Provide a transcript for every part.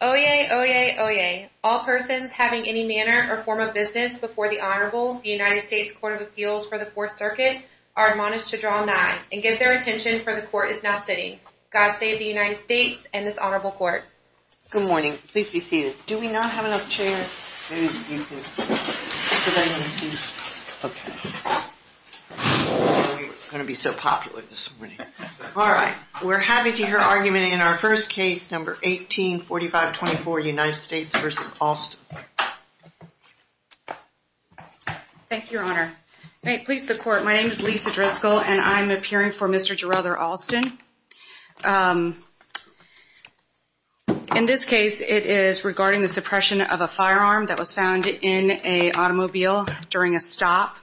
Oyez, oyez, oyez. All persons having any manner or form of business before the Honorable, the United States Court of Appeals for the Fourth Circuit, are admonished to draw nigh and give their attention, for the Court is now sitting. God save the United States and this Honorable Court. All right. We're happy to hear argument in our first case, number 184524, United States v. Alston. Thank you, Your Honor. Please, the Court, my name is Lisa Driscoll and I'm appearing for Mr. Jurother Alston. In this case, it is regarding the suppression of a firearm that was found in an automobile during a stop.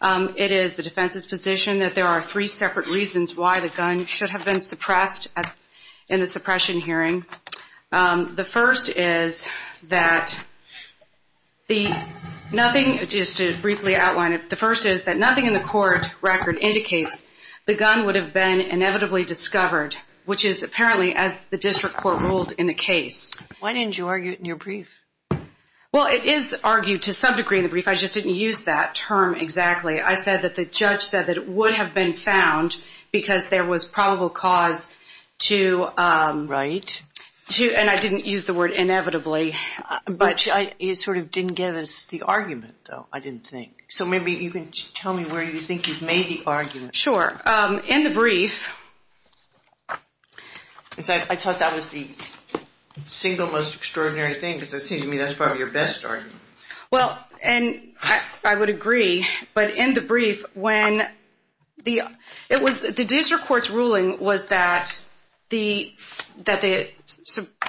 It is the defense's position that there are three separate reasons why the gun should have been suppressed in the suppression hearing. The first is that the nothing, just to briefly outline it, the first is that nothing in the court record indicates the gun would have been inevitably discovered, which is apparently as the district court ruled in the case. Why didn't you argue it in your brief? Well, it is argued to some degree in the brief. I just didn't use that term exactly. I said that the judge said that it would have been found because there was probable cause to. Right. And I didn't use the word inevitably. But it sort of didn't give us the argument, though, I didn't think. So maybe you can tell me where you think you've made the argument. Sure. In the brief. I thought that was the single most extraordinary thing because it seems to me that's probably your best argument. Well, and I would agree. But in the brief, when the it was the district court's ruling was that the that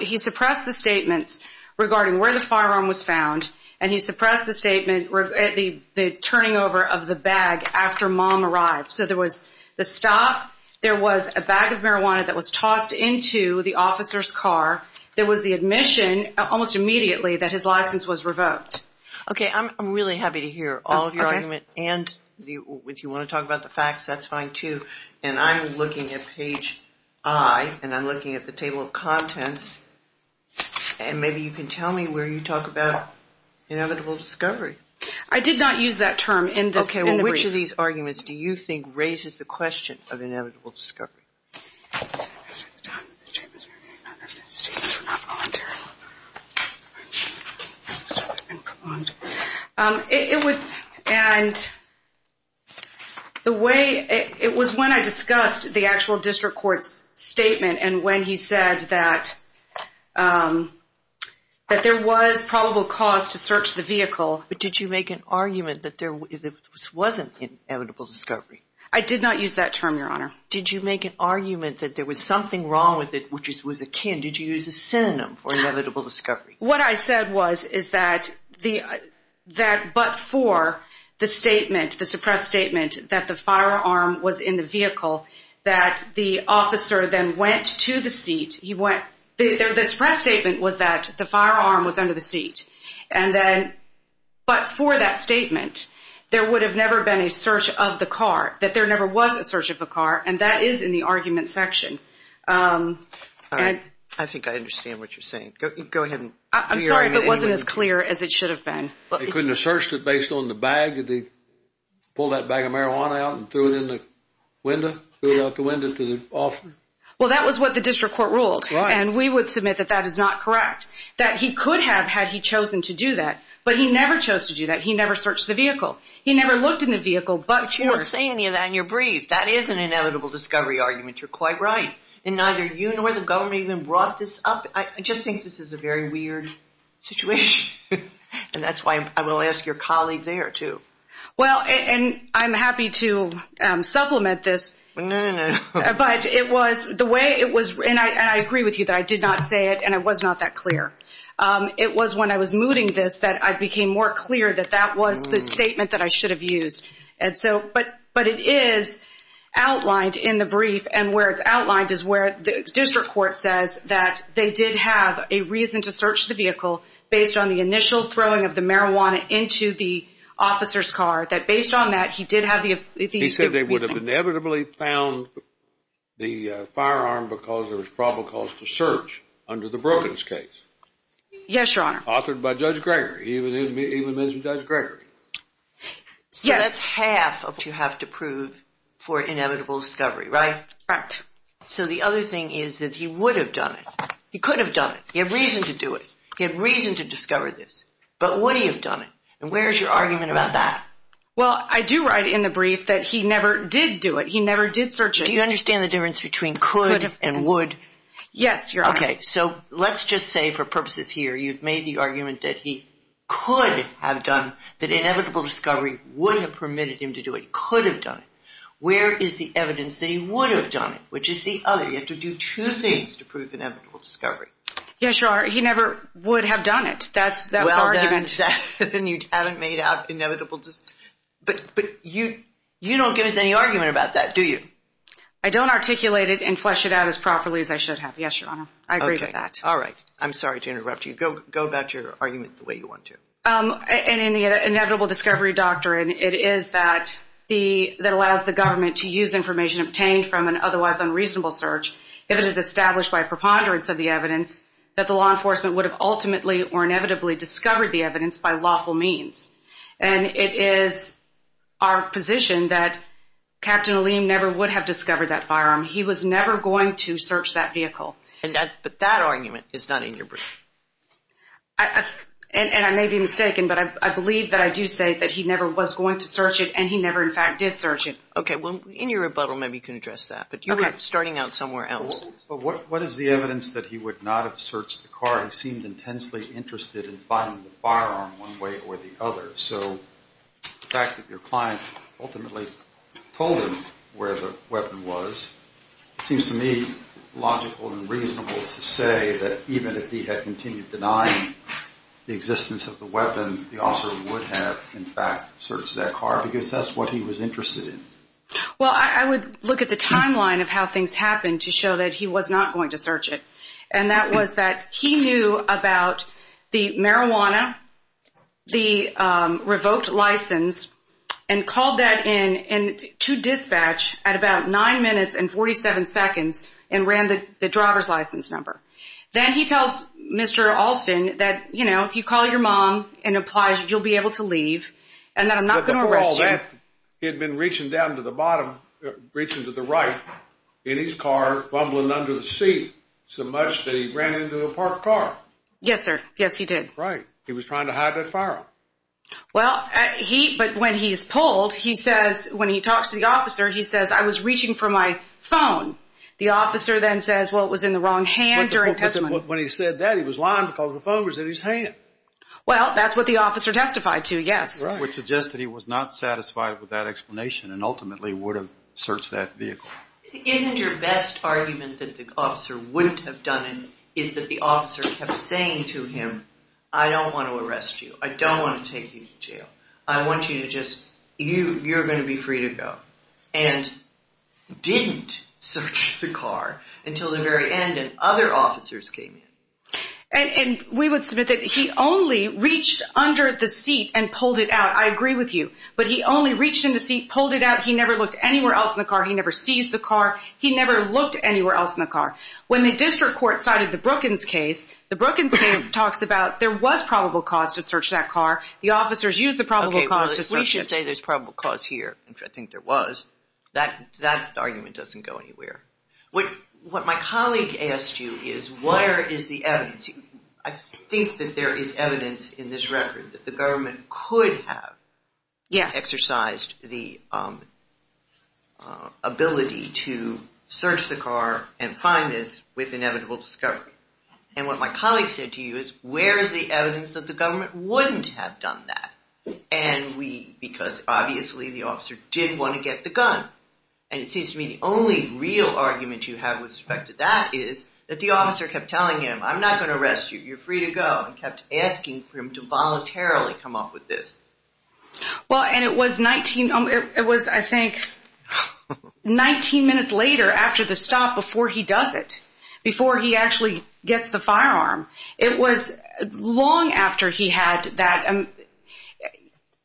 he suppressed the statements regarding where the firearm was found. And he suppressed the statement at the turning over of the bag after mom arrived. So there was the stop. There was a bag of marijuana that was tossed into the officer's car. There was the admission almost immediately that his license was revoked. OK, I'm really happy to hear all of your argument. And if you want to talk about the facts, that's fine, too. And I'm looking at page I and I'm looking at the table of contents. And maybe you can tell me where you talk about inevitable discovery. I did not use that term in this. Which of these arguments do you think raises the question of inevitable discovery? It would. And the way it was when I discussed the actual district court's statement and when he said that that there was probable cause to search the vehicle. But did you make an argument that there wasn't inevitable discovery? I did not use that term, Your Honor. Did you make an argument that there was something wrong with it, which was akin? Did you use a synonym for inevitable discovery? What I said was, is that the that but for the statement, the suppressed statement that the firearm was in the vehicle, that the officer then went to the seat. He went there. This press statement was that the firearm was under the seat. And then but for that statement, there would have never been a search of the car, that there never was a search of a car. And that is in the argument section. And I think I understand what you're saying. Go ahead. I'm sorry if it wasn't as clear as it should have been. But they couldn't have searched it based on the bag that they pulled that bag of marijuana out and threw it in the window. Well, that was what the district court ruled. And we would submit that that is not correct, that he could have had he chosen to do that. But he never chose to do that. He never searched the vehicle. He never looked in the vehicle. But you weren't saying that in your brief. That is an inevitable discovery argument. You're quite right. And neither you nor the government even brought this up. I just think this is a very weird situation. And that's why I will ask your colleague there, too. Well, and I'm happy to supplement this. No, no, no. But it was the way it was. And I agree with you that I did not say it, and I was not that clear. It was when I was mooting this that I became more clear that that was the statement that I should have used. And so, but it is outlined in the brief. And where it's outlined is where the district court says that they did have a reason to search the vehicle based on the initial throwing of the marijuana into the officer's car, that based on that he did have the reason. He said they would have inevitably found the firearm because there was probable cause to search under the Brogan's case. Yes, Your Honor. Authored by Judge Gregory. He even mentioned Judge Gregory. Yes. That's half of what you have to prove for inevitable discovery, right? Correct. So the other thing is that he would have done it. He could have done it. He had reason to do it. He had reason to discover this. But would he have done it? And where is your argument about that? Well, I do write in the brief that he never did do it. He never did search it. Do you understand the difference between could and would? Yes, Your Honor. Okay. So let's just say for purposes here you've made the argument that he could have done, that inevitable discovery would have permitted him to do it, could have done it. Where is the evidence that he would have done it, which is the other? You have to do two things to prove inevitable discovery. Yes, Your Honor. He never would have done it. That's argument. Well, then you haven't made out inevitable. But you don't give us any argument about that, do you? I don't articulate it and flesh it out as properly as I should have. Yes, Your Honor. I agree with that. All right. I'm sorry to interrupt you. Go about your argument the way you want to. In the inevitable discovery doctrine, it is that allows the government to use information obtained from an otherwise unreasonable search if it is established by preponderance of the evidence that the law enforcement would have ultimately or inevitably discovered the evidence by lawful means. And it is our position that Captain Aleem never would have discovered that firearm. He was never going to search that vehicle. But that argument is not in your brief. And I may be mistaken, but I believe that I do say that he never was going to search it and he never, in fact, did search it. Okay. Well, in your rebuttal, maybe you can address that. But you were starting out somewhere else. But what is the evidence that he would not have searched the car? He seemed intensely interested in finding the firearm one way or the other. So the fact that your client ultimately told him where the weapon was, it seems to me logical and reasonable to say that even if he had continued denying the existence of the weapon, the officer would have, in fact, searched that car because that's what he was interested in. Well, I would look at the timeline of how things happened to show that he was not going to search it. And that was that he knew about the marijuana, the revoked license, and called that in to dispatch at about 9 minutes and 47 seconds and ran the driver's license number. Then he tells Mr. Alston that, you know, if you call your mom and apply, you'll be able to leave, and that I'm not going to arrest you. But before all that, he had been reaching down to the bottom, reaching to the right in his car, fumbling under the seat so much that he ran into a parked car. Yes, sir. Yes, he did. Right. He was trying to hide that firearm. Well, he, but when he's pulled, he says, when he talks to the officer, he says, I was reaching for my phone. The officer then says, well, it was in the wrong hand during testimony. When he said that, he was lying because the phone was in his hand. Well, that's what the officer testified to, yes. I would suggest that he was not satisfied with that explanation and ultimately would have searched that vehicle. Isn't your best argument that the officer wouldn't have done it, is that the officer kept saying to him, I don't want to arrest you. I don't want to take you to jail. I want you to just, you're going to be free to go, and didn't search the car until the very end and other officers came in. And we would submit that he only reached under the seat and pulled it out. I agree with you. But he only reached in the seat, pulled it out. He never looked anywhere else in the car. He never seized the car. He never looked anywhere else in the car. When the district court cited the Brookins case, the Brookins case talks about there was probable cause to search that car. The officers used the probable cause to search it. We should say there's probable cause here, which I think there was. That argument doesn't go anywhere. What my colleague asked you is where is the evidence? I think that there is evidence in this record that the government could have exercised the ability to search the car and find this with inevitable discovery. And what my colleague said to you is where is the evidence that the government wouldn't have done that? And we, because obviously the officer did want to get the gun, and it seems to me the only real argument you have with respect to that is that the officer kept telling him, I'm not going to arrest you. You're free to go, and kept asking for him to voluntarily come up with this. Well, and it was, I think, 19 minutes later after the stop before he does it, before he actually gets the firearm. It was long after he had that.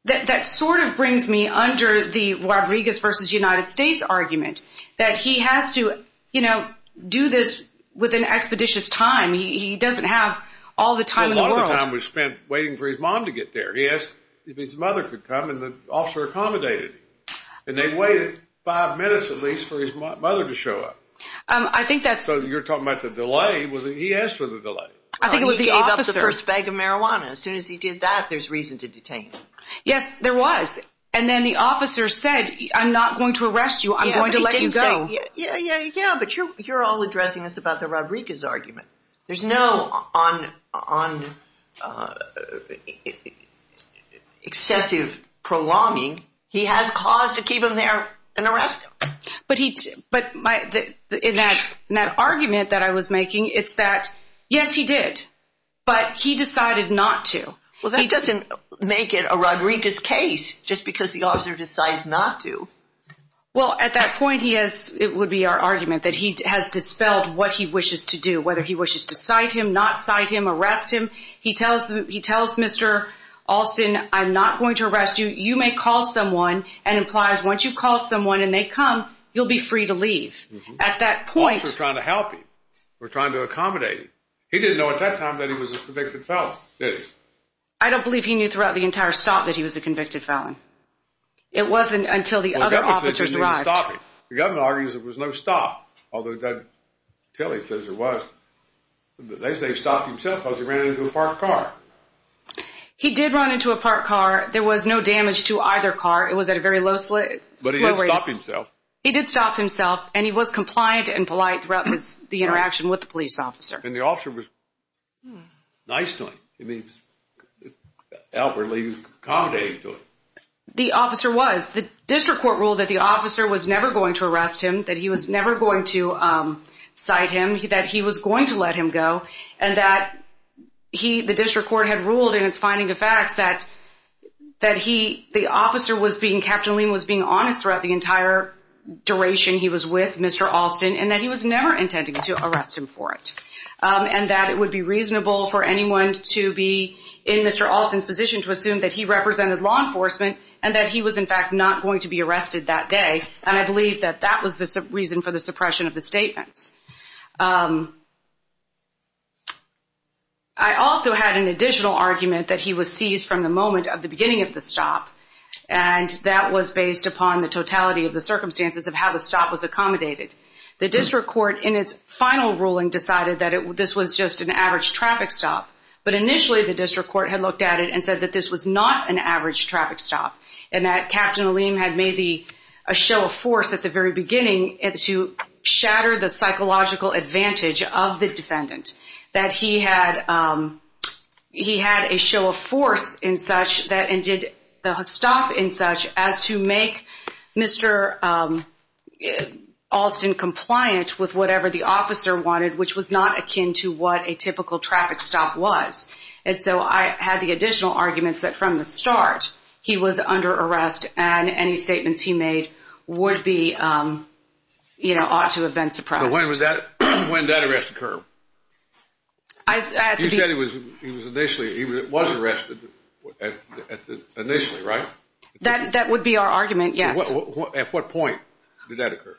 That sort of brings me under the Rodriguez versus United States argument, that he has to do this with an expeditious time. He doesn't have all the time in the world. Well, a lot of the time was spent waiting for his mom to get there. He asked if his mother could come, and the officer accommodated. And they waited five minutes at least for his mother to show up. So you're talking about the delay. He asked for the delay. He gave up the first bag of marijuana. As soon as he did that, there's reason to detain him. Yes, there was. And then the officer said, I'm not going to arrest you. I'm going to let you go. Yeah, but you're all addressing this about the Rodriguez argument. There's no excessive prolonging. He has cause to keep him there and arrest him. But in that argument that I was making, it's that, yes, he did. But he decided not to. Well, that doesn't make it a Rodriguez case just because the officer decided not to. Well, at that point, it would be our argument that he has dispelled what he wishes to do, whether he wishes to cite him, not cite him, arrest him. He tells Mr. Alston, I'm not going to arrest you. You may call someone and implies once you call someone and they come, you'll be free to leave. At that point. The officer was trying to help him or trying to accommodate him. He didn't know at that time that he was a convicted felon, did he? I don't believe he knew throughout the entire stop that he was a convicted felon. It wasn't until the other officers arrived. The governor argues there was no stop. Although Ted Tilley says there was. They say he stopped himself because he ran into a parked car. He did run into a parked car. There was no damage to either car. It was at a very low slope. He did stop himself and he was compliant and polite throughout the interaction with the police officer. And the officer was nice to him. He was outwardly accommodating to him. The officer was. That he was never going to arrest him. That he was never going to cite him. That he was going to let him go. And that he, the district court, had ruled in its finding of facts that he, the officer was being, Captain Lehm was being honest throughout the entire duration he was with Mr. Alston. And that he was never intending to arrest him for it. And that it would be reasonable for anyone to be in Mr. Alston's position to assume that he represented law enforcement. And that he was in fact not going to be arrested that day. And I believe that that was the reason for the suppression of the statements. I also had an additional argument that he was seized from the moment of the beginning of the stop. And that was based upon the totality of the circumstances of how the stop was accommodated. The district court in its final ruling decided that this was just an average traffic stop. But initially the district court had looked at it and said that this was not an average traffic stop. And that Captain Lehm had made a show of force at the very beginning to shatter the psychological advantage of the defendant. That he had a show of force in such that and did the stop in such as to make Mr. Alston compliant with whatever the officer wanted. Which was not akin to what a typical traffic stop was. And so I had the additional arguments that from the start he was under arrest. And any statements he made would be, you know, ought to have been suppressed. So when did that arrest occur? You said he was initially, he was arrested initially, right? That would be our argument, yes. At what point did that occur?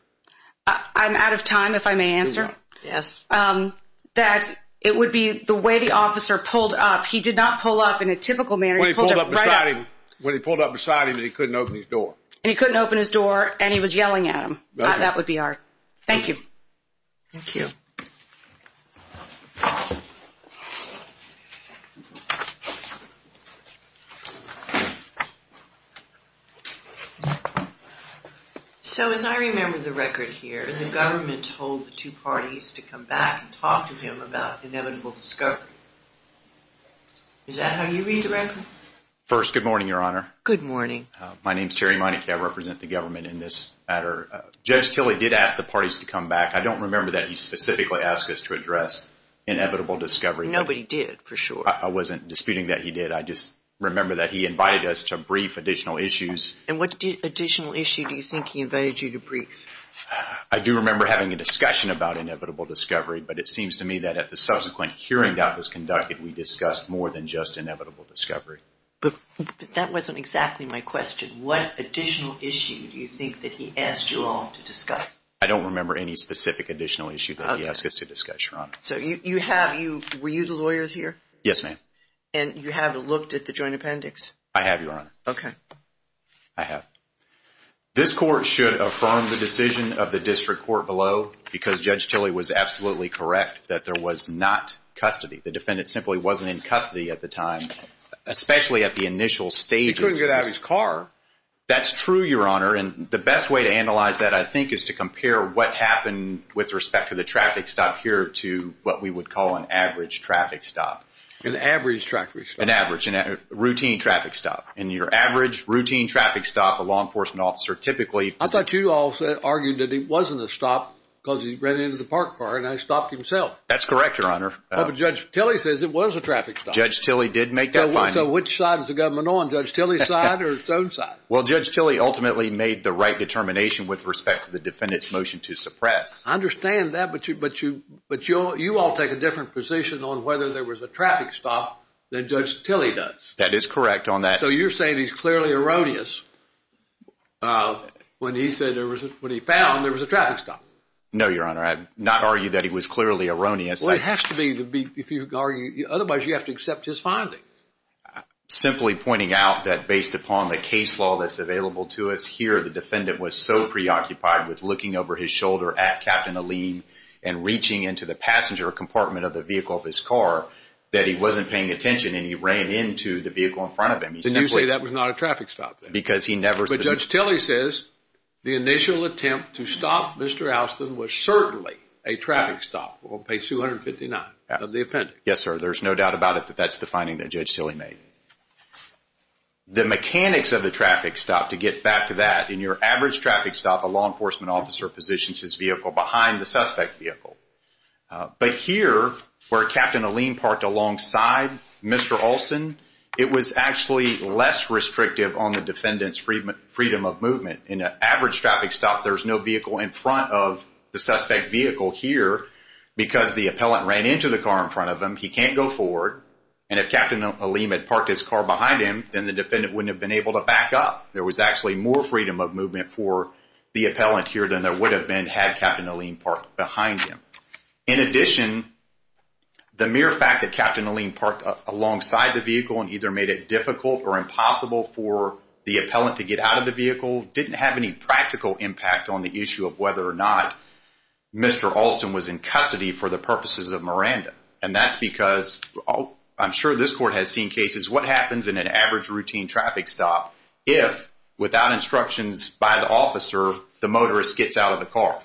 I'm out of time if I may answer. Yes. That it would be the way the officer pulled up. He did not pull up in a typical manner. When he pulled up beside him. When he pulled up beside him and he couldn't open his door. And he couldn't open his door and he was yelling at him. That would be our. Thank you. Thank you. So as I remember the record here, the government told the two parties to come back and talk to him about inevitable discovery. Is that how you read the record? First, good morning, Your Honor. Good morning. My name is Terry Monique. I represent the government in this matter. Judge Tilley did ask the parties to come back. I don't remember that he specifically asked us to address inevitable discovery. Nobody did, for sure. I wasn't disputing that he did. I just remember that he invited us to brief additional issues. And what additional issue do you think he invited you to brief? I do remember having a discussion about inevitable discovery. But it seems to me that at the subsequent hearing that was conducted, we discussed more than just inevitable discovery. But that wasn't exactly my question. What additional issue do you think that he asked you all to discuss? I don't remember any specific additional issue that he asked us to discuss, Your Honor. So were you the lawyers here? Yes, ma'am. And you haven't looked at the joint appendix? I have, Your Honor. Okay. I have. This court should affirm the decision of the district court below because Judge Tilley was absolutely correct that there was not custody. The defendant simply wasn't in custody at the time, especially at the initial stages. He couldn't get out of his car. That's true, Your Honor. And the best way to analyze that, I think, is to compare what happened with respect to the traffic stop here to what we would call an average traffic stop. An average traffic stop. An average. A routine traffic stop. In your average routine traffic stop, a law enforcement officer typically— I thought you all argued that it wasn't a stop because he ran into the park car and I stopped himself. That's correct, Your Honor. But Judge Tilley says it was a traffic stop. Judge Tilley did make that finding. So which side is the government on, Judge Tilley's side or its own side? Well, Judge Tilley ultimately made the right determination with respect to the defendant's motion to suppress. I understand that, but you all take a different position on whether there was a traffic stop than Judge Tilley does. That is correct on that. So you're saying he's clearly erroneous when he said there was—when he found there was a traffic stop. No, Your Honor. I did not argue that he was clearly erroneous. Well, it has to be if you argue—otherwise you have to accept his finding. Simply pointing out that based upon the case law that's available to us here, the defendant was so preoccupied with looking over his shoulder at Captain Alleyne and reaching into the passenger compartment of the vehicle of his car that he wasn't paying attention and he ran into the vehicle in front of him. So you say that was not a traffic stop then? Because he never— But Judge Tilley says the initial attempt to stop Mr. Alston was certainly a traffic stop on page 259 of the appendix. Yes, sir. There's no doubt about it that that's the finding that Judge Tilley made. The mechanics of the traffic stop, to get back to that, in your average traffic stop, a law enforcement officer positions his vehicle behind the suspect vehicle. But here where Captain Alleyne parked alongside Mr. Alston, it was actually less restrictive on the defendant's freedom of movement. In an average traffic stop, there's no vehicle in front of the suspect vehicle here because the appellant ran into the car in front of him. He can't go forward. And if Captain Alleyne had parked his car behind him, then the defendant wouldn't have been able to back up. There was actually more freedom of movement for the appellant here than there would have been had Captain Alleyne parked behind him. In addition, the mere fact that Captain Alleyne parked alongside the vehicle and either made it difficult or impossible for the appellant to get out of the vehicle didn't have any practical impact on the issue of whether or not Mr. Alston was in custody for the purposes of Miranda. And that's because, I'm sure this court has seen cases, what happens in an average routine traffic stop if, without instructions by the officer, the motorist gets out of the car?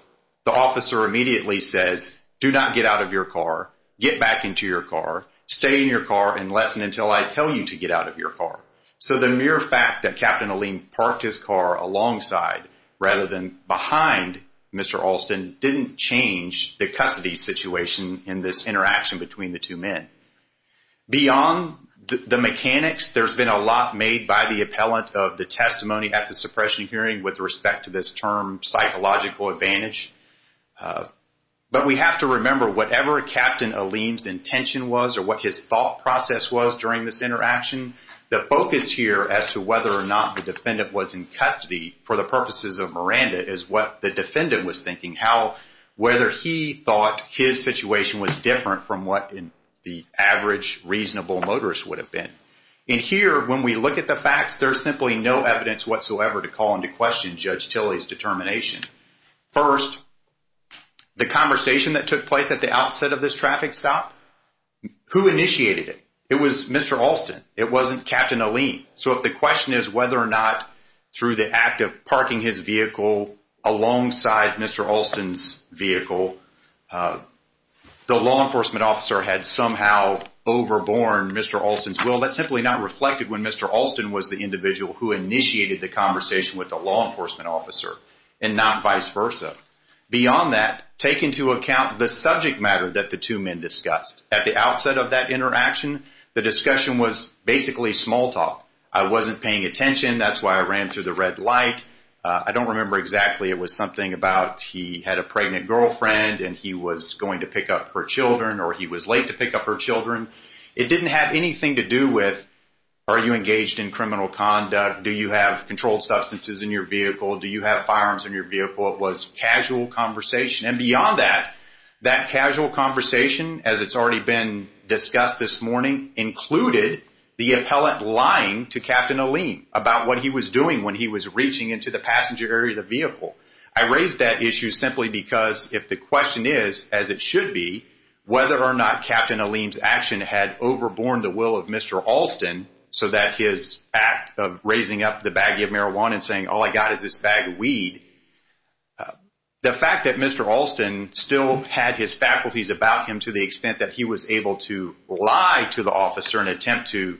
The officer immediately says, do not get out of your car. Get back into your car. Stay in your car unless and until I tell you to get out of your car. So the mere fact that Captain Alleyne parked his car alongside rather than behind Mr. Alston didn't change the custody situation in this interaction between the two men. Beyond the mechanics, there's been a lot made by the appellant of the testimony at the suppression hearing with respect to this term, psychological advantage. But we have to remember, whatever Captain Alleyne's intention was or what his thought process was during this interaction, the focus here as to whether or not the defendant was in custody for the purposes of Miranda is what the defendant was thinking, how whether he thought his situation was different from what the average reasonable motorist would have been. And here, when we look at the facts, there's simply no evidence whatsoever to call into question Judge Tilley's determination. First, the conversation that took place at the outset of this traffic stop, who initiated it? It was Mr. Alston. It wasn't Captain Alleyne. So if the question is whether or not, through the act of parking his vehicle alongside Mr. Alston's vehicle, the law enforcement officer had somehow overborne Mr. Alston's will, that's simply not reflected when Mr. Alston was the individual who initiated the conversation with the law enforcement officer and not vice versa. Beyond that, take into account the subject matter that the two men discussed. At the outset of that interaction, the discussion was basically small talk. I wasn't paying attention. That's why I ran through the red light. I don't remember exactly. It was something about he had a pregnant girlfriend and he was going to pick up her children or he was late to pick up her children. It didn't have anything to do with are you engaged in criminal conduct? Do you have controlled substances in your vehicle? Do you have firearms in your vehicle? It was casual conversation. And beyond that, that casual conversation, as it's already been discussed this morning, included the appellant lying to Captain Alleyne about what he was doing when he was reaching into the passenger area of the vehicle. I raised that issue simply because if the question is, as it should be, whether or not Captain Alleyne's action had overborne the will of Mr. Alston so that his act of raising up the baggie of marijuana and saying, all I got is this bag of weed, the fact that Mr. Alston still had his faculties about him to the extent that he was able to lie to the officer in an attempt to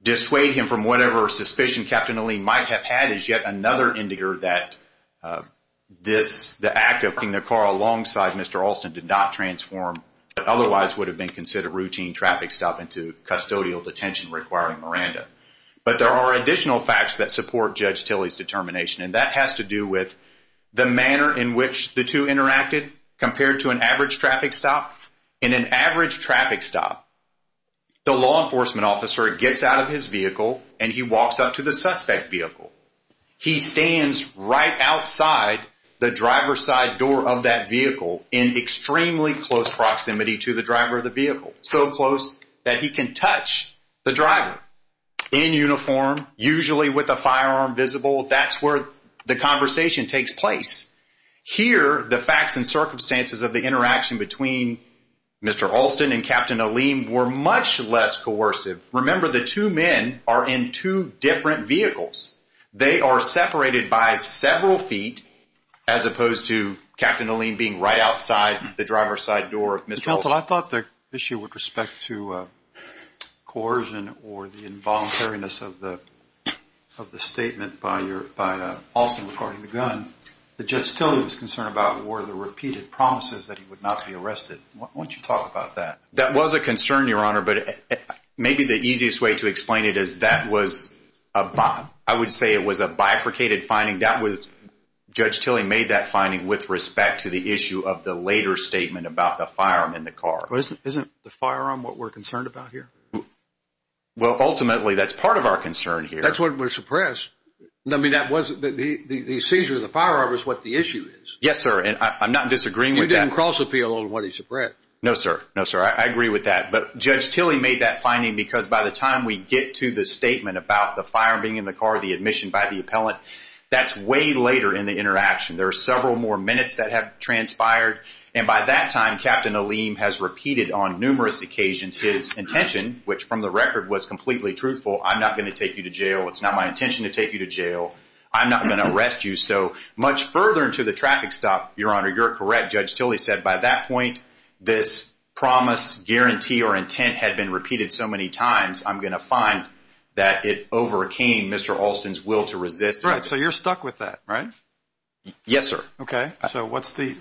dissuade him from whatever suspicion Captain Alleyne might have had is yet another indicator that the act of parking the car alongside Mr. Alston did not transform what otherwise would have been considered routine traffic stop into custodial detention requiring Miranda. But there are additional facts that support Judge Tilley's determination, and that has to do with the manner in which the two interacted compared to an average traffic stop. In an average traffic stop, the law enforcement officer gets out of his vehicle and he walks up to the suspect vehicle. He stands right outside the driver's side door of that vehicle in extremely close proximity to the driver of the vehicle, so close that he can touch the driver in uniform, usually with a firearm visible. That's where the conversation takes place. Here, the facts and circumstances of the interaction between Mr. Alston and Captain Alleyne were much less coercive. Remember, the two men are in two different vehicles. They are separated by several feet as opposed to Captain Alleyne being right outside the driver's side door of Mr. Alston. Counsel, I thought the issue with respect to coercion or the involuntariness of the statement by Alston regarding the gun that Judge Tilley was concerned about were the repeated promises that he would not be arrested. Why don't you talk about that? That was a concern, Your Honor, but maybe the easiest way to explain it is that was a bifurcated finding. Judge Tilley made that finding with respect to the issue of the later statement about the firearm in the car. Isn't the firearm what we're concerned about here? Well, ultimately, that's part of our concern here. That's what we're suppressed. I mean, the seizure of the firearm is what the issue is. Yes, sir, and I'm not disagreeing with that. You didn't cross-appeal on what he suppressed. No, sir. No, sir. I agree with that. But Judge Tilley made that finding because by the time we get to the statement about the firearm being in the car, the admission by the appellant, that's way later in the interaction. There are several more minutes that have transpired, and by that time, Captain Aleem has repeated on numerous occasions his intention, which from the record was completely truthful. I'm not going to take you to jail. It's not my intention to take you to jail. I'm not going to arrest you. So much further into the traffic stop, Your Honor, you're correct, Judge Tilley said, by that point, this promise, guarantee, or intent had been repeated so many times, I'm going to find that it overcame Mr. Alston's will to resist. Right, so you're stuck with that, right? Yes, sir. Okay, so what's the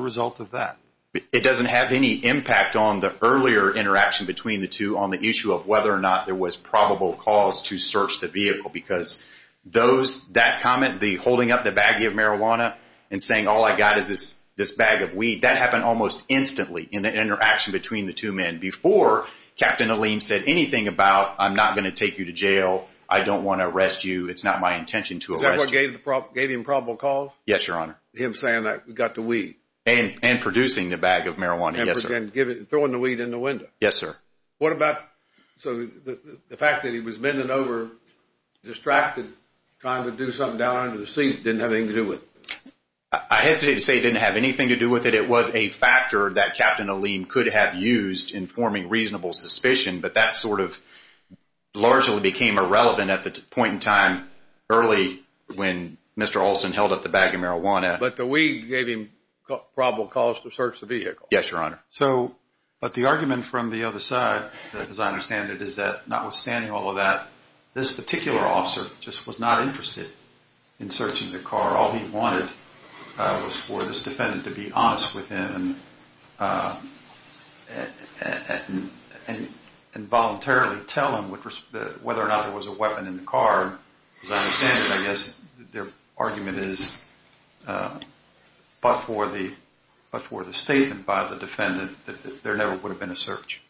result of that? It doesn't have any impact on the earlier interaction between the two on the issue of whether or not there was probable cause to search the vehicle because that comment, the holding up the baggie of marijuana and saying all I got is this bag of weed, that happened almost instantly in the interaction between the two men before Captain Aleem said anything about I'm not going to take you to jail, I don't want to arrest you, it's not my intention to arrest you. Is that what gave him probable cause? Yes, Your Honor. Him saying I got the weed? And producing the bag of marijuana, yes, sir. And throwing the weed in the window? Yes, sir. What about the fact that he was bending over, distracted, trying to do something down under the seat that didn't have anything to do with it? I hesitate to say it didn't have anything to do with it. It was a factor that Captain Aleem could have used in forming reasonable suspicion, but that sort of largely became irrelevant at the point in time, early when Mr. Olson held up the bag of marijuana. But the weed gave him probable cause to search the vehicle? Yes, Your Honor. But the argument from the other side, as I understand it, is that notwithstanding all of that, this particular officer just was not interested in searching the car. All he wanted was for this defendant to be honest with him and voluntarily tell him whether or not there was a weapon in the car. As I understand it, I guess their argument is but for the statement by the defendant that there never would have been a search.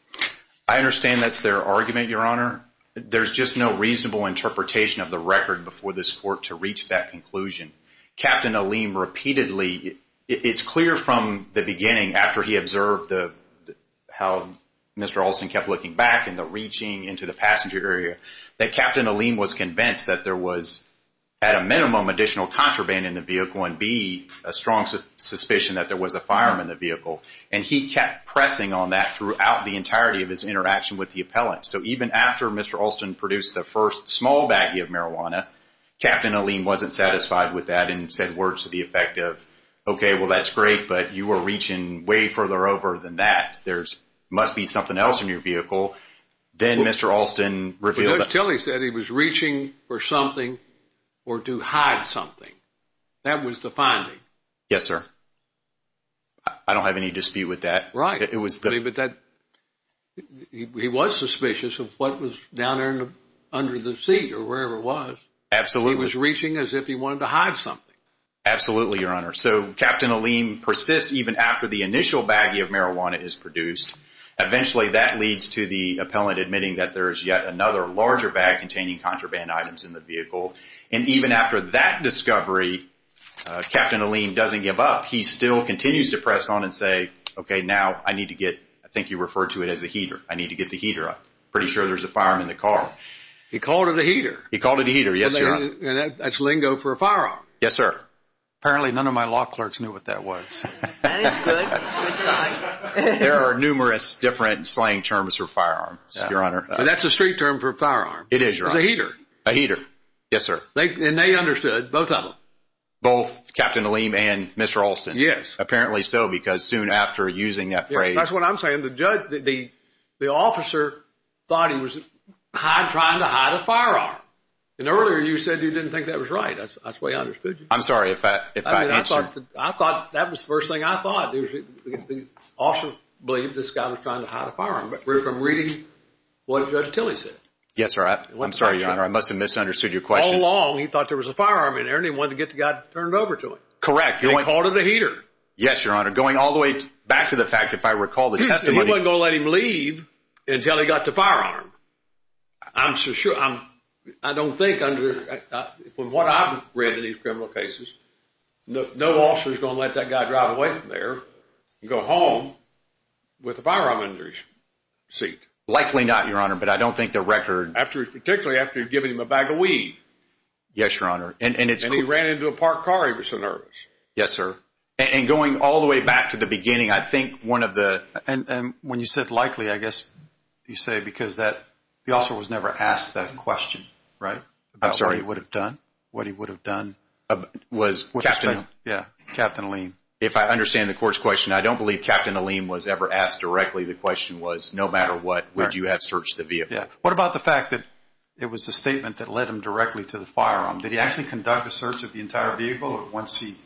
I understand that's their argument, Your Honor. There's just no reasonable interpretation of the record before this court to reach that conclusion. Captain Aleem repeatedly, it's clear from the beginning after he observed how Mr. Olson kept looking back and the reaching into the passenger area, that Captain Aleem was convinced that there was at a minimum additional contraband in the vehicle and B, a strong suspicion that there was a firearm in the vehicle. And he kept pressing on that throughout the entirety of his interaction with the appellant. So even after Mr. Olson produced the first small baggie of marijuana, Captain Aleem wasn't satisfied with that and said words to the effect of, okay, well, that's great, but you were reaching way further over than that. There must be something else in your vehicle. Then Mr. Olson revealed that… But Judge Tilley said he was reaching for something or to hide something. That was the finding. Yes, sir. I don't have any dispute with that. Right. He was suspicious of what was down there under the seat or wherever it was. Absolutely. He was reaching as if he wanted to hide something. Absolutely, Your Honor. So Captain Aleem persists even after the initial baggie of marijuana is produced. Eventually that leads to the appellant admitting that there is yet another larger bag containing contraband items in the vehicle. And even after that discovery, Captain Aleem doesn't give up. He still continues to press on and say, okay, now I need to get, I think you referred to it as a heater. I need to get the heater up. I'm pretty sure there's a firearm in the car. He called it a heater. He called it a heater, yes, Your Honor. And that's lingo for a firearm. Yes, sir. Apparently none of my law clerks knew what that was. That is good. Good sign. There are numerous different slang terms for firearms, Your Honor. That's a street term for a firearm. It is, Your Honor. It's a heater. A heater. Yes, sir. And they understood, both of them. Both Captain Aleem and Mr. Olson. Yes. Apparently so because soon after using that phrase. That's what I'm saying. The judge, the officer thought he was trying to hide a firearm. And earlier you said you didn't think that was right. That's the way I understood you. I'm sorry if I answered. I thought that was the first thing I thought. The officer believed this guy was trying to hide a firearm. But from reading what Judge Tilley said. Yes, sir. I'm sorry, Your Honor. I must have misunderstood your question. He was following along. He thought there was a firearm in there. And he wanted to get the guy to turn it over to him. Correct. He called it a heater. Yes, Your Honor. Going all the way back to the fact, if I recall the testimony. He wasn't going to let him leave until he got the firearm. I'm so sure. I don't think, from what I've read in these criminal cases, no officer is going to let that guy drive away from there and go home with a firearm under his seat. Likely not, Your Honor. But I don't think the record. Particularly after giving him a bag of weed. Yes, Your Honor. And he ran into a parked car. He was so nervous. Yes, sir. And going all the way back to the beginning, I think one of the... And when you said likely, I guess you say because that... The officer was never asked that question, right? I'm sorry. About what he would have done. What he would have done. Was... With his family. Yeah. Captain Aleem. If I understand the court's question, I don't believe Captain Aleem was ever asked directly. The question was, no matter what, would you have searched the vehicle? Yeah. What about the fact that it was a statement that led him directly to the firearm? Did he actually conduct a search of the entire vehicle? Or once he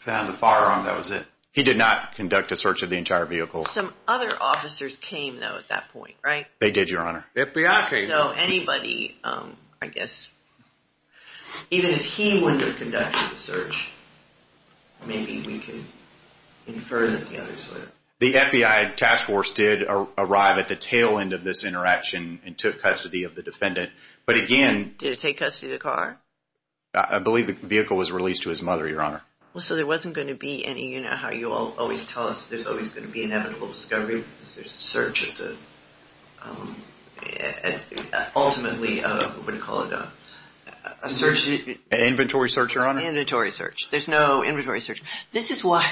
found the firearm, that was it? He did not conduct a search of the entire vehicle. Some other officers came, though, at that point, right? They did, Your Honor. The FBI came. So anybody, I guess, even if he wouldn't have conducted the search, maybe we could infer that the others would have. The FBI task force did arrive at the tail end of this interaction and took custody of the defendant. But again... Did it take custody of the car? I believe the vehicle was released to his mother, Your Honor. So there wasn't going to be any... You know how you always tell us there's always going to be inevitable discovery. There's a search. Ultimately, what do you call it, a search... An inventory search, Your Honor. An inventory search. There's no inventory search. This is why...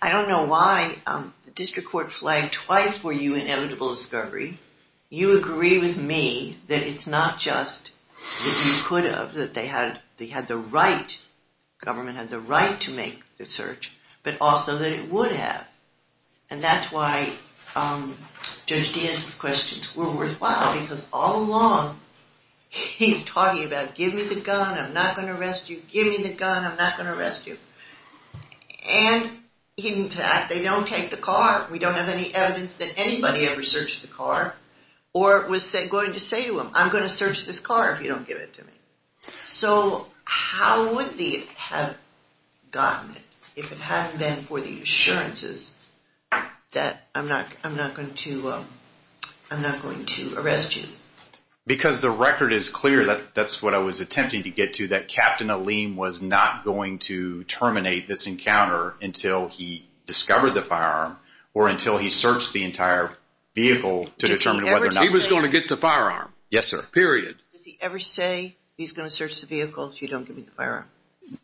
I don't know why the district court flagged twice for you inevitable discovery. You agree with me that it's not just that you could have, that they had the right, government had the right to make the search, but also that it would have. And that's why Judge Diaz's questions were worthwhile because all along he's talking about, give me the gun, I'm not going to arrest you. Give me the gun, I'm not going to arrest you. And in fact, they don't take the car. We don't have any evidence that anybody ever searched the car or was going to say to him, I'm going to search this car if you don't give it to me. So how would they have gotten it if it hadn't been for the assurances that I'm not going to arrest you? Because the record is clear, that's what I was attempting to get to, that Captain Aleem was not going to terminate this encounter until he discovered the firearm or until he searched the entire vehicle to determine whether or not... He was going to get the firearm. Yes, sir. Period. Does he ever say he's going to search the vehicle if you don't give me the firearm?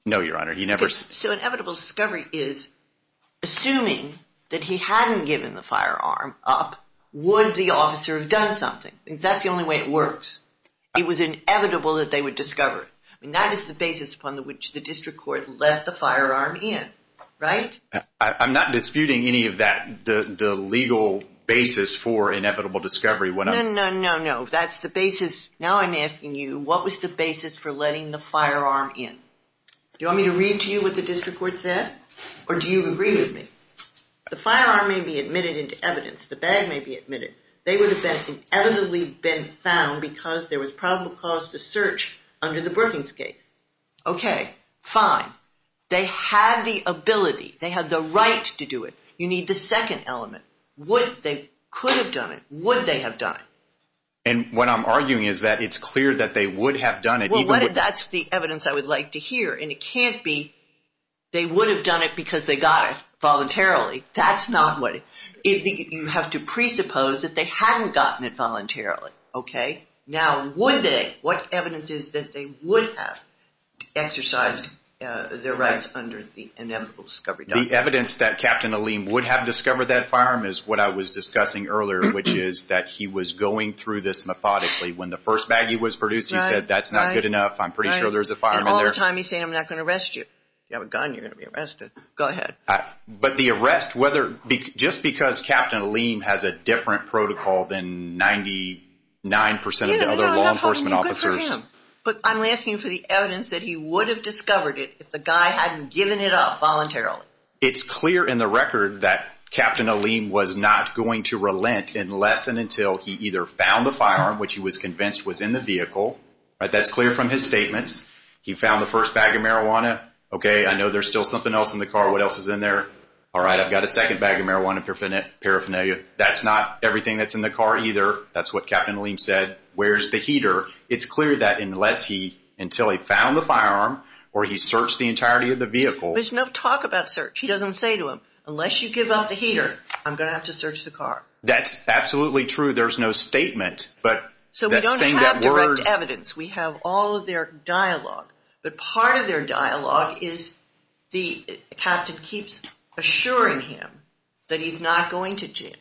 No, Your Honor, he never... So inevitable discovery is, assuming that he hadn't given the firearm up, would the officer have done something? That's the only way it works. It was inevitable that they would discover it. That is the basis upon which the district court let the firearm in, right? I'm not disputing any of that, the legal basis for inevitable discovery. No, no, no, no. That's the basis. Now I'm asking you, what was the basis for letting the firearm in? Do you want me to read to you what the district court said? Or do you agree with me? The firearm may be admitted into evidence. The bag may be admitted. They would have been inevitably been found because there was probable cause to search under the Brookings case. Okay, fine. They had the ability. They had the right to do it. You need the second element. Would they have done it? Could they have done it? Would they have done it? And what I'm arguing is that it's clear that they would have done it. Well, that's the evidence I would like to hear. And it can't be they would have done it because they got it voluntarily. That's not what... You have to presuppose that they hadn't gotten it voluntarily, okay? Now, would they? What evidence is that they would have exercised their rights under the inevitable discovery document? The evidence that Captain Aleem would have discovered that firearm is what I was discussing earlier, which is that he was going through this methodically. When the first baggie was produced, he said, that's not good enough, I'm pretty sure there's a firearm in there. And all the time he's saying, I'm not going to arrest you. If you have a gun, you're going to be arrested. Go ahead. But the arrest, whether... But I'm asking for the evidence that he would have discovered it if the guy hadn't given it up voluntarily. It's clear in the record that Captain Aleem was not going to relent unless and until he either found the firearm, which he was convinced was in the vehicle. That's clear from his statements. He found the first bag of marijuana. Okay, I know there's still something else in the car. What else is in there? All right, I've got a second bag of marijuana paraphernalia. That's not everything that's in the car either. That's what Captain Aleem said. Where's the heater? It's clear that unless he... until he found the firearm or he searched the entirety of the vehicle... There's no talk about search. He doesn't say to him, unless you give up the heater, I'm going to have to search the car. That's absolutely true. There's no statement. So we don't have direct evidence. We have all of their dialogue. But part of their dialogue is the Captain keeps assuring him that he's not going to jail.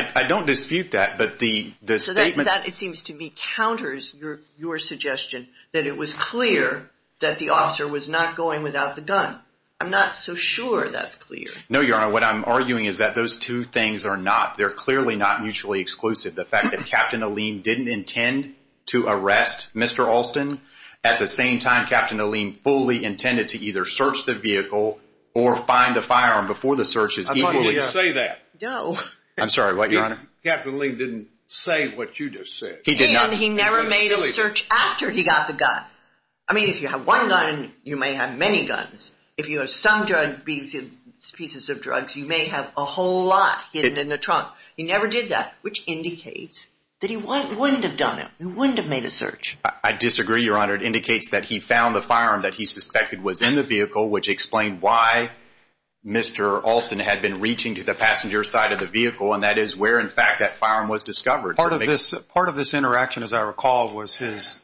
I don't dispute that, but the statements... That, it seems to me, counters your suggestion that it was clear that the officer was not going without the gun. I'm not so sure that's clear. No, Your Honor, what I'm arguing is that those two things are not. They're clearly not mutually exclusive. The fact that Captain Aleem didn't intend to arrest Mr. Alston, at the same time Captain Aleem fully intended to either search the vehicle or find the firearm before the search is equally... I thought he didn't say that. No. I'm sorry, what, Your Honor? Captain Aleem didn't say what you just said. He did not. And he never made a search after he got the gun. I mean, if you have one gun, you may have many guns. If you have some pieces of drugs, you may have a whole lot hidden in the trunk. He never did that, which indicates that he wouldn't have done it. He wouldn't have made a search. I disagree, Your Honor. It indicates that he found the firearm that he suspected was in the vehicle, which explained why Mr. Alston had been reaching to the passenger side of the vehicle, and that is where, in fact, that firearm was discovered. Part of this interaction, as I recall, was his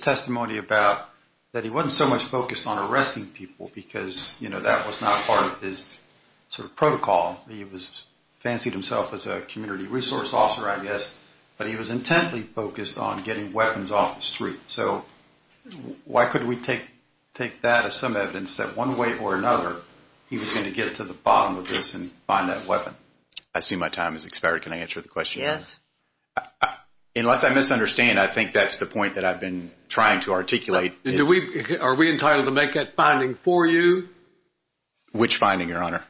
testimony about that he wasn't so much focused on arresting people because, you know, that was not part of his sort of protocol. He fancied himself as a community resource officer, I guess, but he was intently focused on getting weapons off the street. So why could we take that as some evidence that one way or another he was going to get to the bottom of this and find that weapon? I see my time has expired. Can I answer the question? Yes. Unless I misunderstand, I think that's the point that I've been trying to articulate. Are we entitled to make that finding for you? Which finding, Your Honor?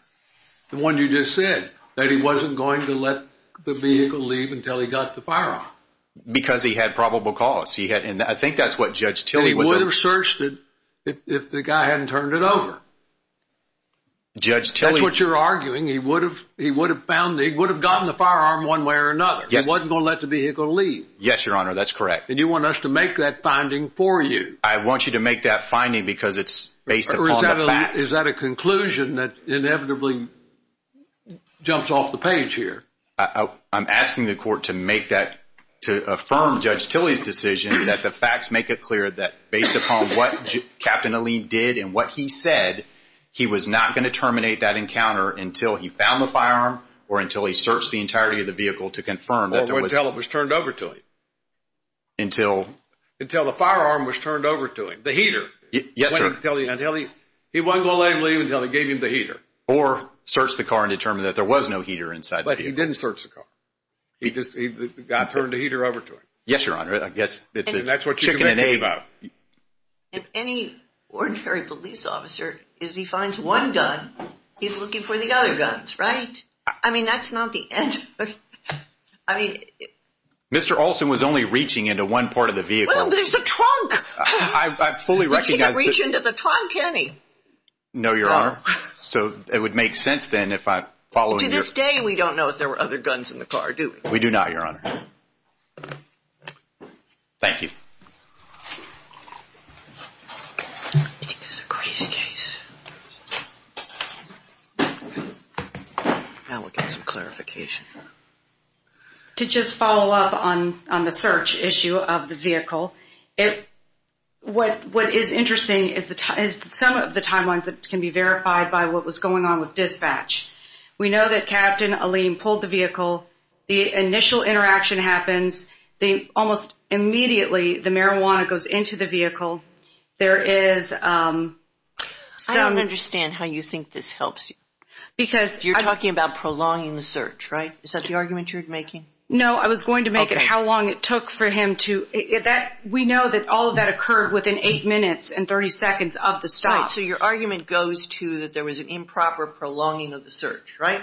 The one you just said, that he wasn't going to let the vehicle leave until he got the firearm. Because he had probable cause. He would have searched it if the guy hadn't turned it over. That's what you're arguing. He would have gotten the firearm one way or another. He wasn't going to let the vehicle leave. Yes, Your Honor. That's correct. And you want us to make that finding for you. I want you to make that finding because it's based upon the facts. Is that a conclusion that inevitably jumps off the page here? I'm asking the court to make that, to affirm Judge Tilley's decision that the facts make it clear that based upon what Captain Alleyne did and what he said, he was not going to terminate that encounter until he found the firearm or until he searched the entirety of the vehicle to confirm that there was Or until it was turned over to him. Until? Until the firearm was turned over to him. The heater. Yes, sir. He wasn't going to let him leave until he gave him the heater. Or search the car and determine that there was no heater inside the vehicle. He didn't search the car. He just turned the heater over to him. Yes, Your Honor. I guess it's a chicken and egg. And any ordinary police officer, if he finds one gun, he's looking for the other guns, right? I mean, that's not the answer. I mean. Mr. Olson was only reaching into one part of the vehicle. Well, there's the trunk. I fully recognize. He can't reach into the trunk, can he? No, Your Honor. So it would make sense then if I followed your. To this day, we don't know if there were other guns in the car, do we? We do not, Your Honor. Thank you. I think this is a crazy case. Now we'll get some clarification. To just follow up on the search issue of the vehicle, what is interesting is some of the timelines that can be verified by what was going on with dispatch. We know that Captain Aleem pulled the vehicle. The initial interaction happens. Almost immediately, the marijuana goes into the vehicle. There is some. I don't understand how you think this helps you. Because. You're talking about prolonging the search, right? Is that the argument you're making? No, I was going to make it how long it took for him to. We know that all of that occurred within eight minutes and 30 seconds of the stop. All right, so your argument goes to that there was an improper prolonging of the search, right?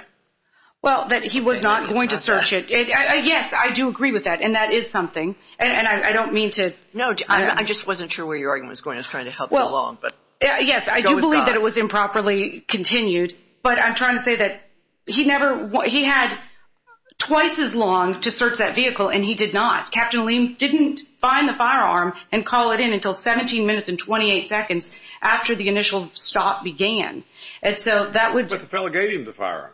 Well, that he was not going to search it. Yes, I do agree with that, and that is something. And I don't mean to. No, I just wasn't sure where your argument was going. I was trying to help you along. Yes, I do believe that it was improperly continued. But I'm trying to say that he had twice as long to search that vehicle, and he did not. Captain Leem didn't find the firearm and call it in until 17 minutes and 28 seconds after the initial stop began. And so that would. But the fellow gave him the firearm.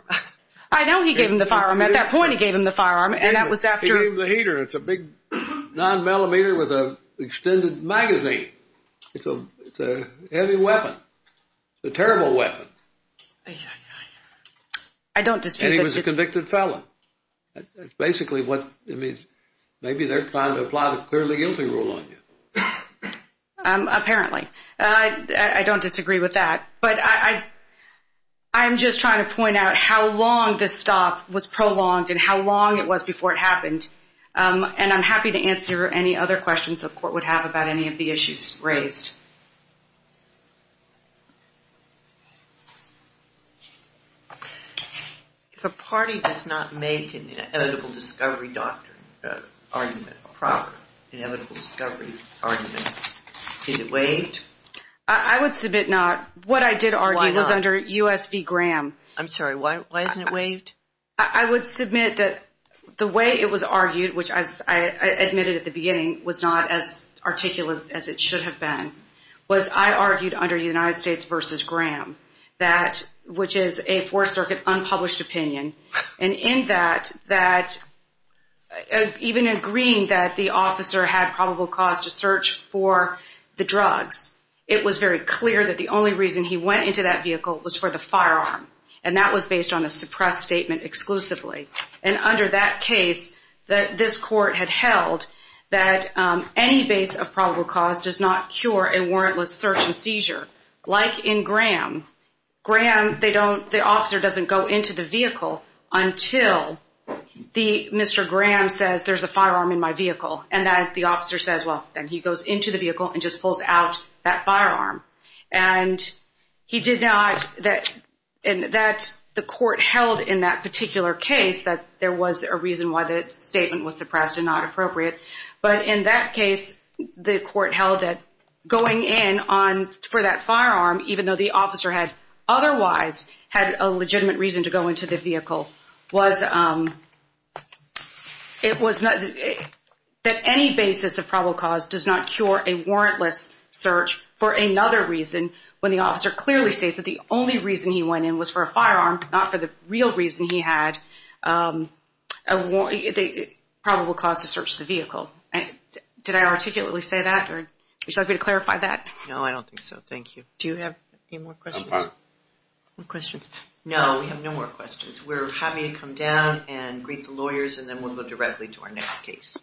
I know he gave him the firearm. At that point, he gave him the firearm, and that was after. He gave him the heater. It's a big nine millimeter with an extended magazine. It's a heavy weapon, a terrible weapon. I don't dispute that. And he was a convicted felon. That's basically what it means. Maybe they're trying to apply the clearly guilty rule on you. Apparently. I don't disagree with that. But I'm just trying to point out how long this stop was prolonged and how long it was before it happened. And I'm happy to answer any other questions the court would have about any of the issues raised. If a party does not make an inevitable discovery doctrine argument proper, inevitable discovery argument, is it waived? I would submit not. What I did argue was under U.S. v. Graham. I'm sorry. Why isn't it waived? I would submit that the way it was argued, which I admitted at the beginning was not as articulate as it should have been, was I argued under United States v. Graham, which is a Fourth Circuit unpublished opinion. And in that, even agreeing that the officer had probable cause to search for the drugs, it was very clear that the only reason he went into that vehicle was for the firearm. And that was based on a suppressed statement exclusively. And under that case, this court had held that any base of probable cause does not cure a warrantless search and seizure. Like in Graham, the officer doesn't go into the vehicle until Mr. Graham says there's a firearm in my vehicle, and that the officer says, well, then he goes into the vehicle and just pulls out that firearm. And he did not, and that the court held in that particular case that there was a reason why the statement was suppressed and not appropriate. But in that case, the court held that going in for that firearm, even though the officer had otherwise had a legitimate reason to go into the vehicle, was that any basis of probable cause does not cure a warrantless search for another reason when the officer clearly states that the only reason he went in was for a firearm, not for the real reason he had probable cause to search the vehicle. Did I articulately say that? Would you like me to clarify that? No, I don't think so. Thank you. Do you have any more questions? No, we have no more questions. We're happy to come down and greet the lawyers, and then we'll go directly to our next case.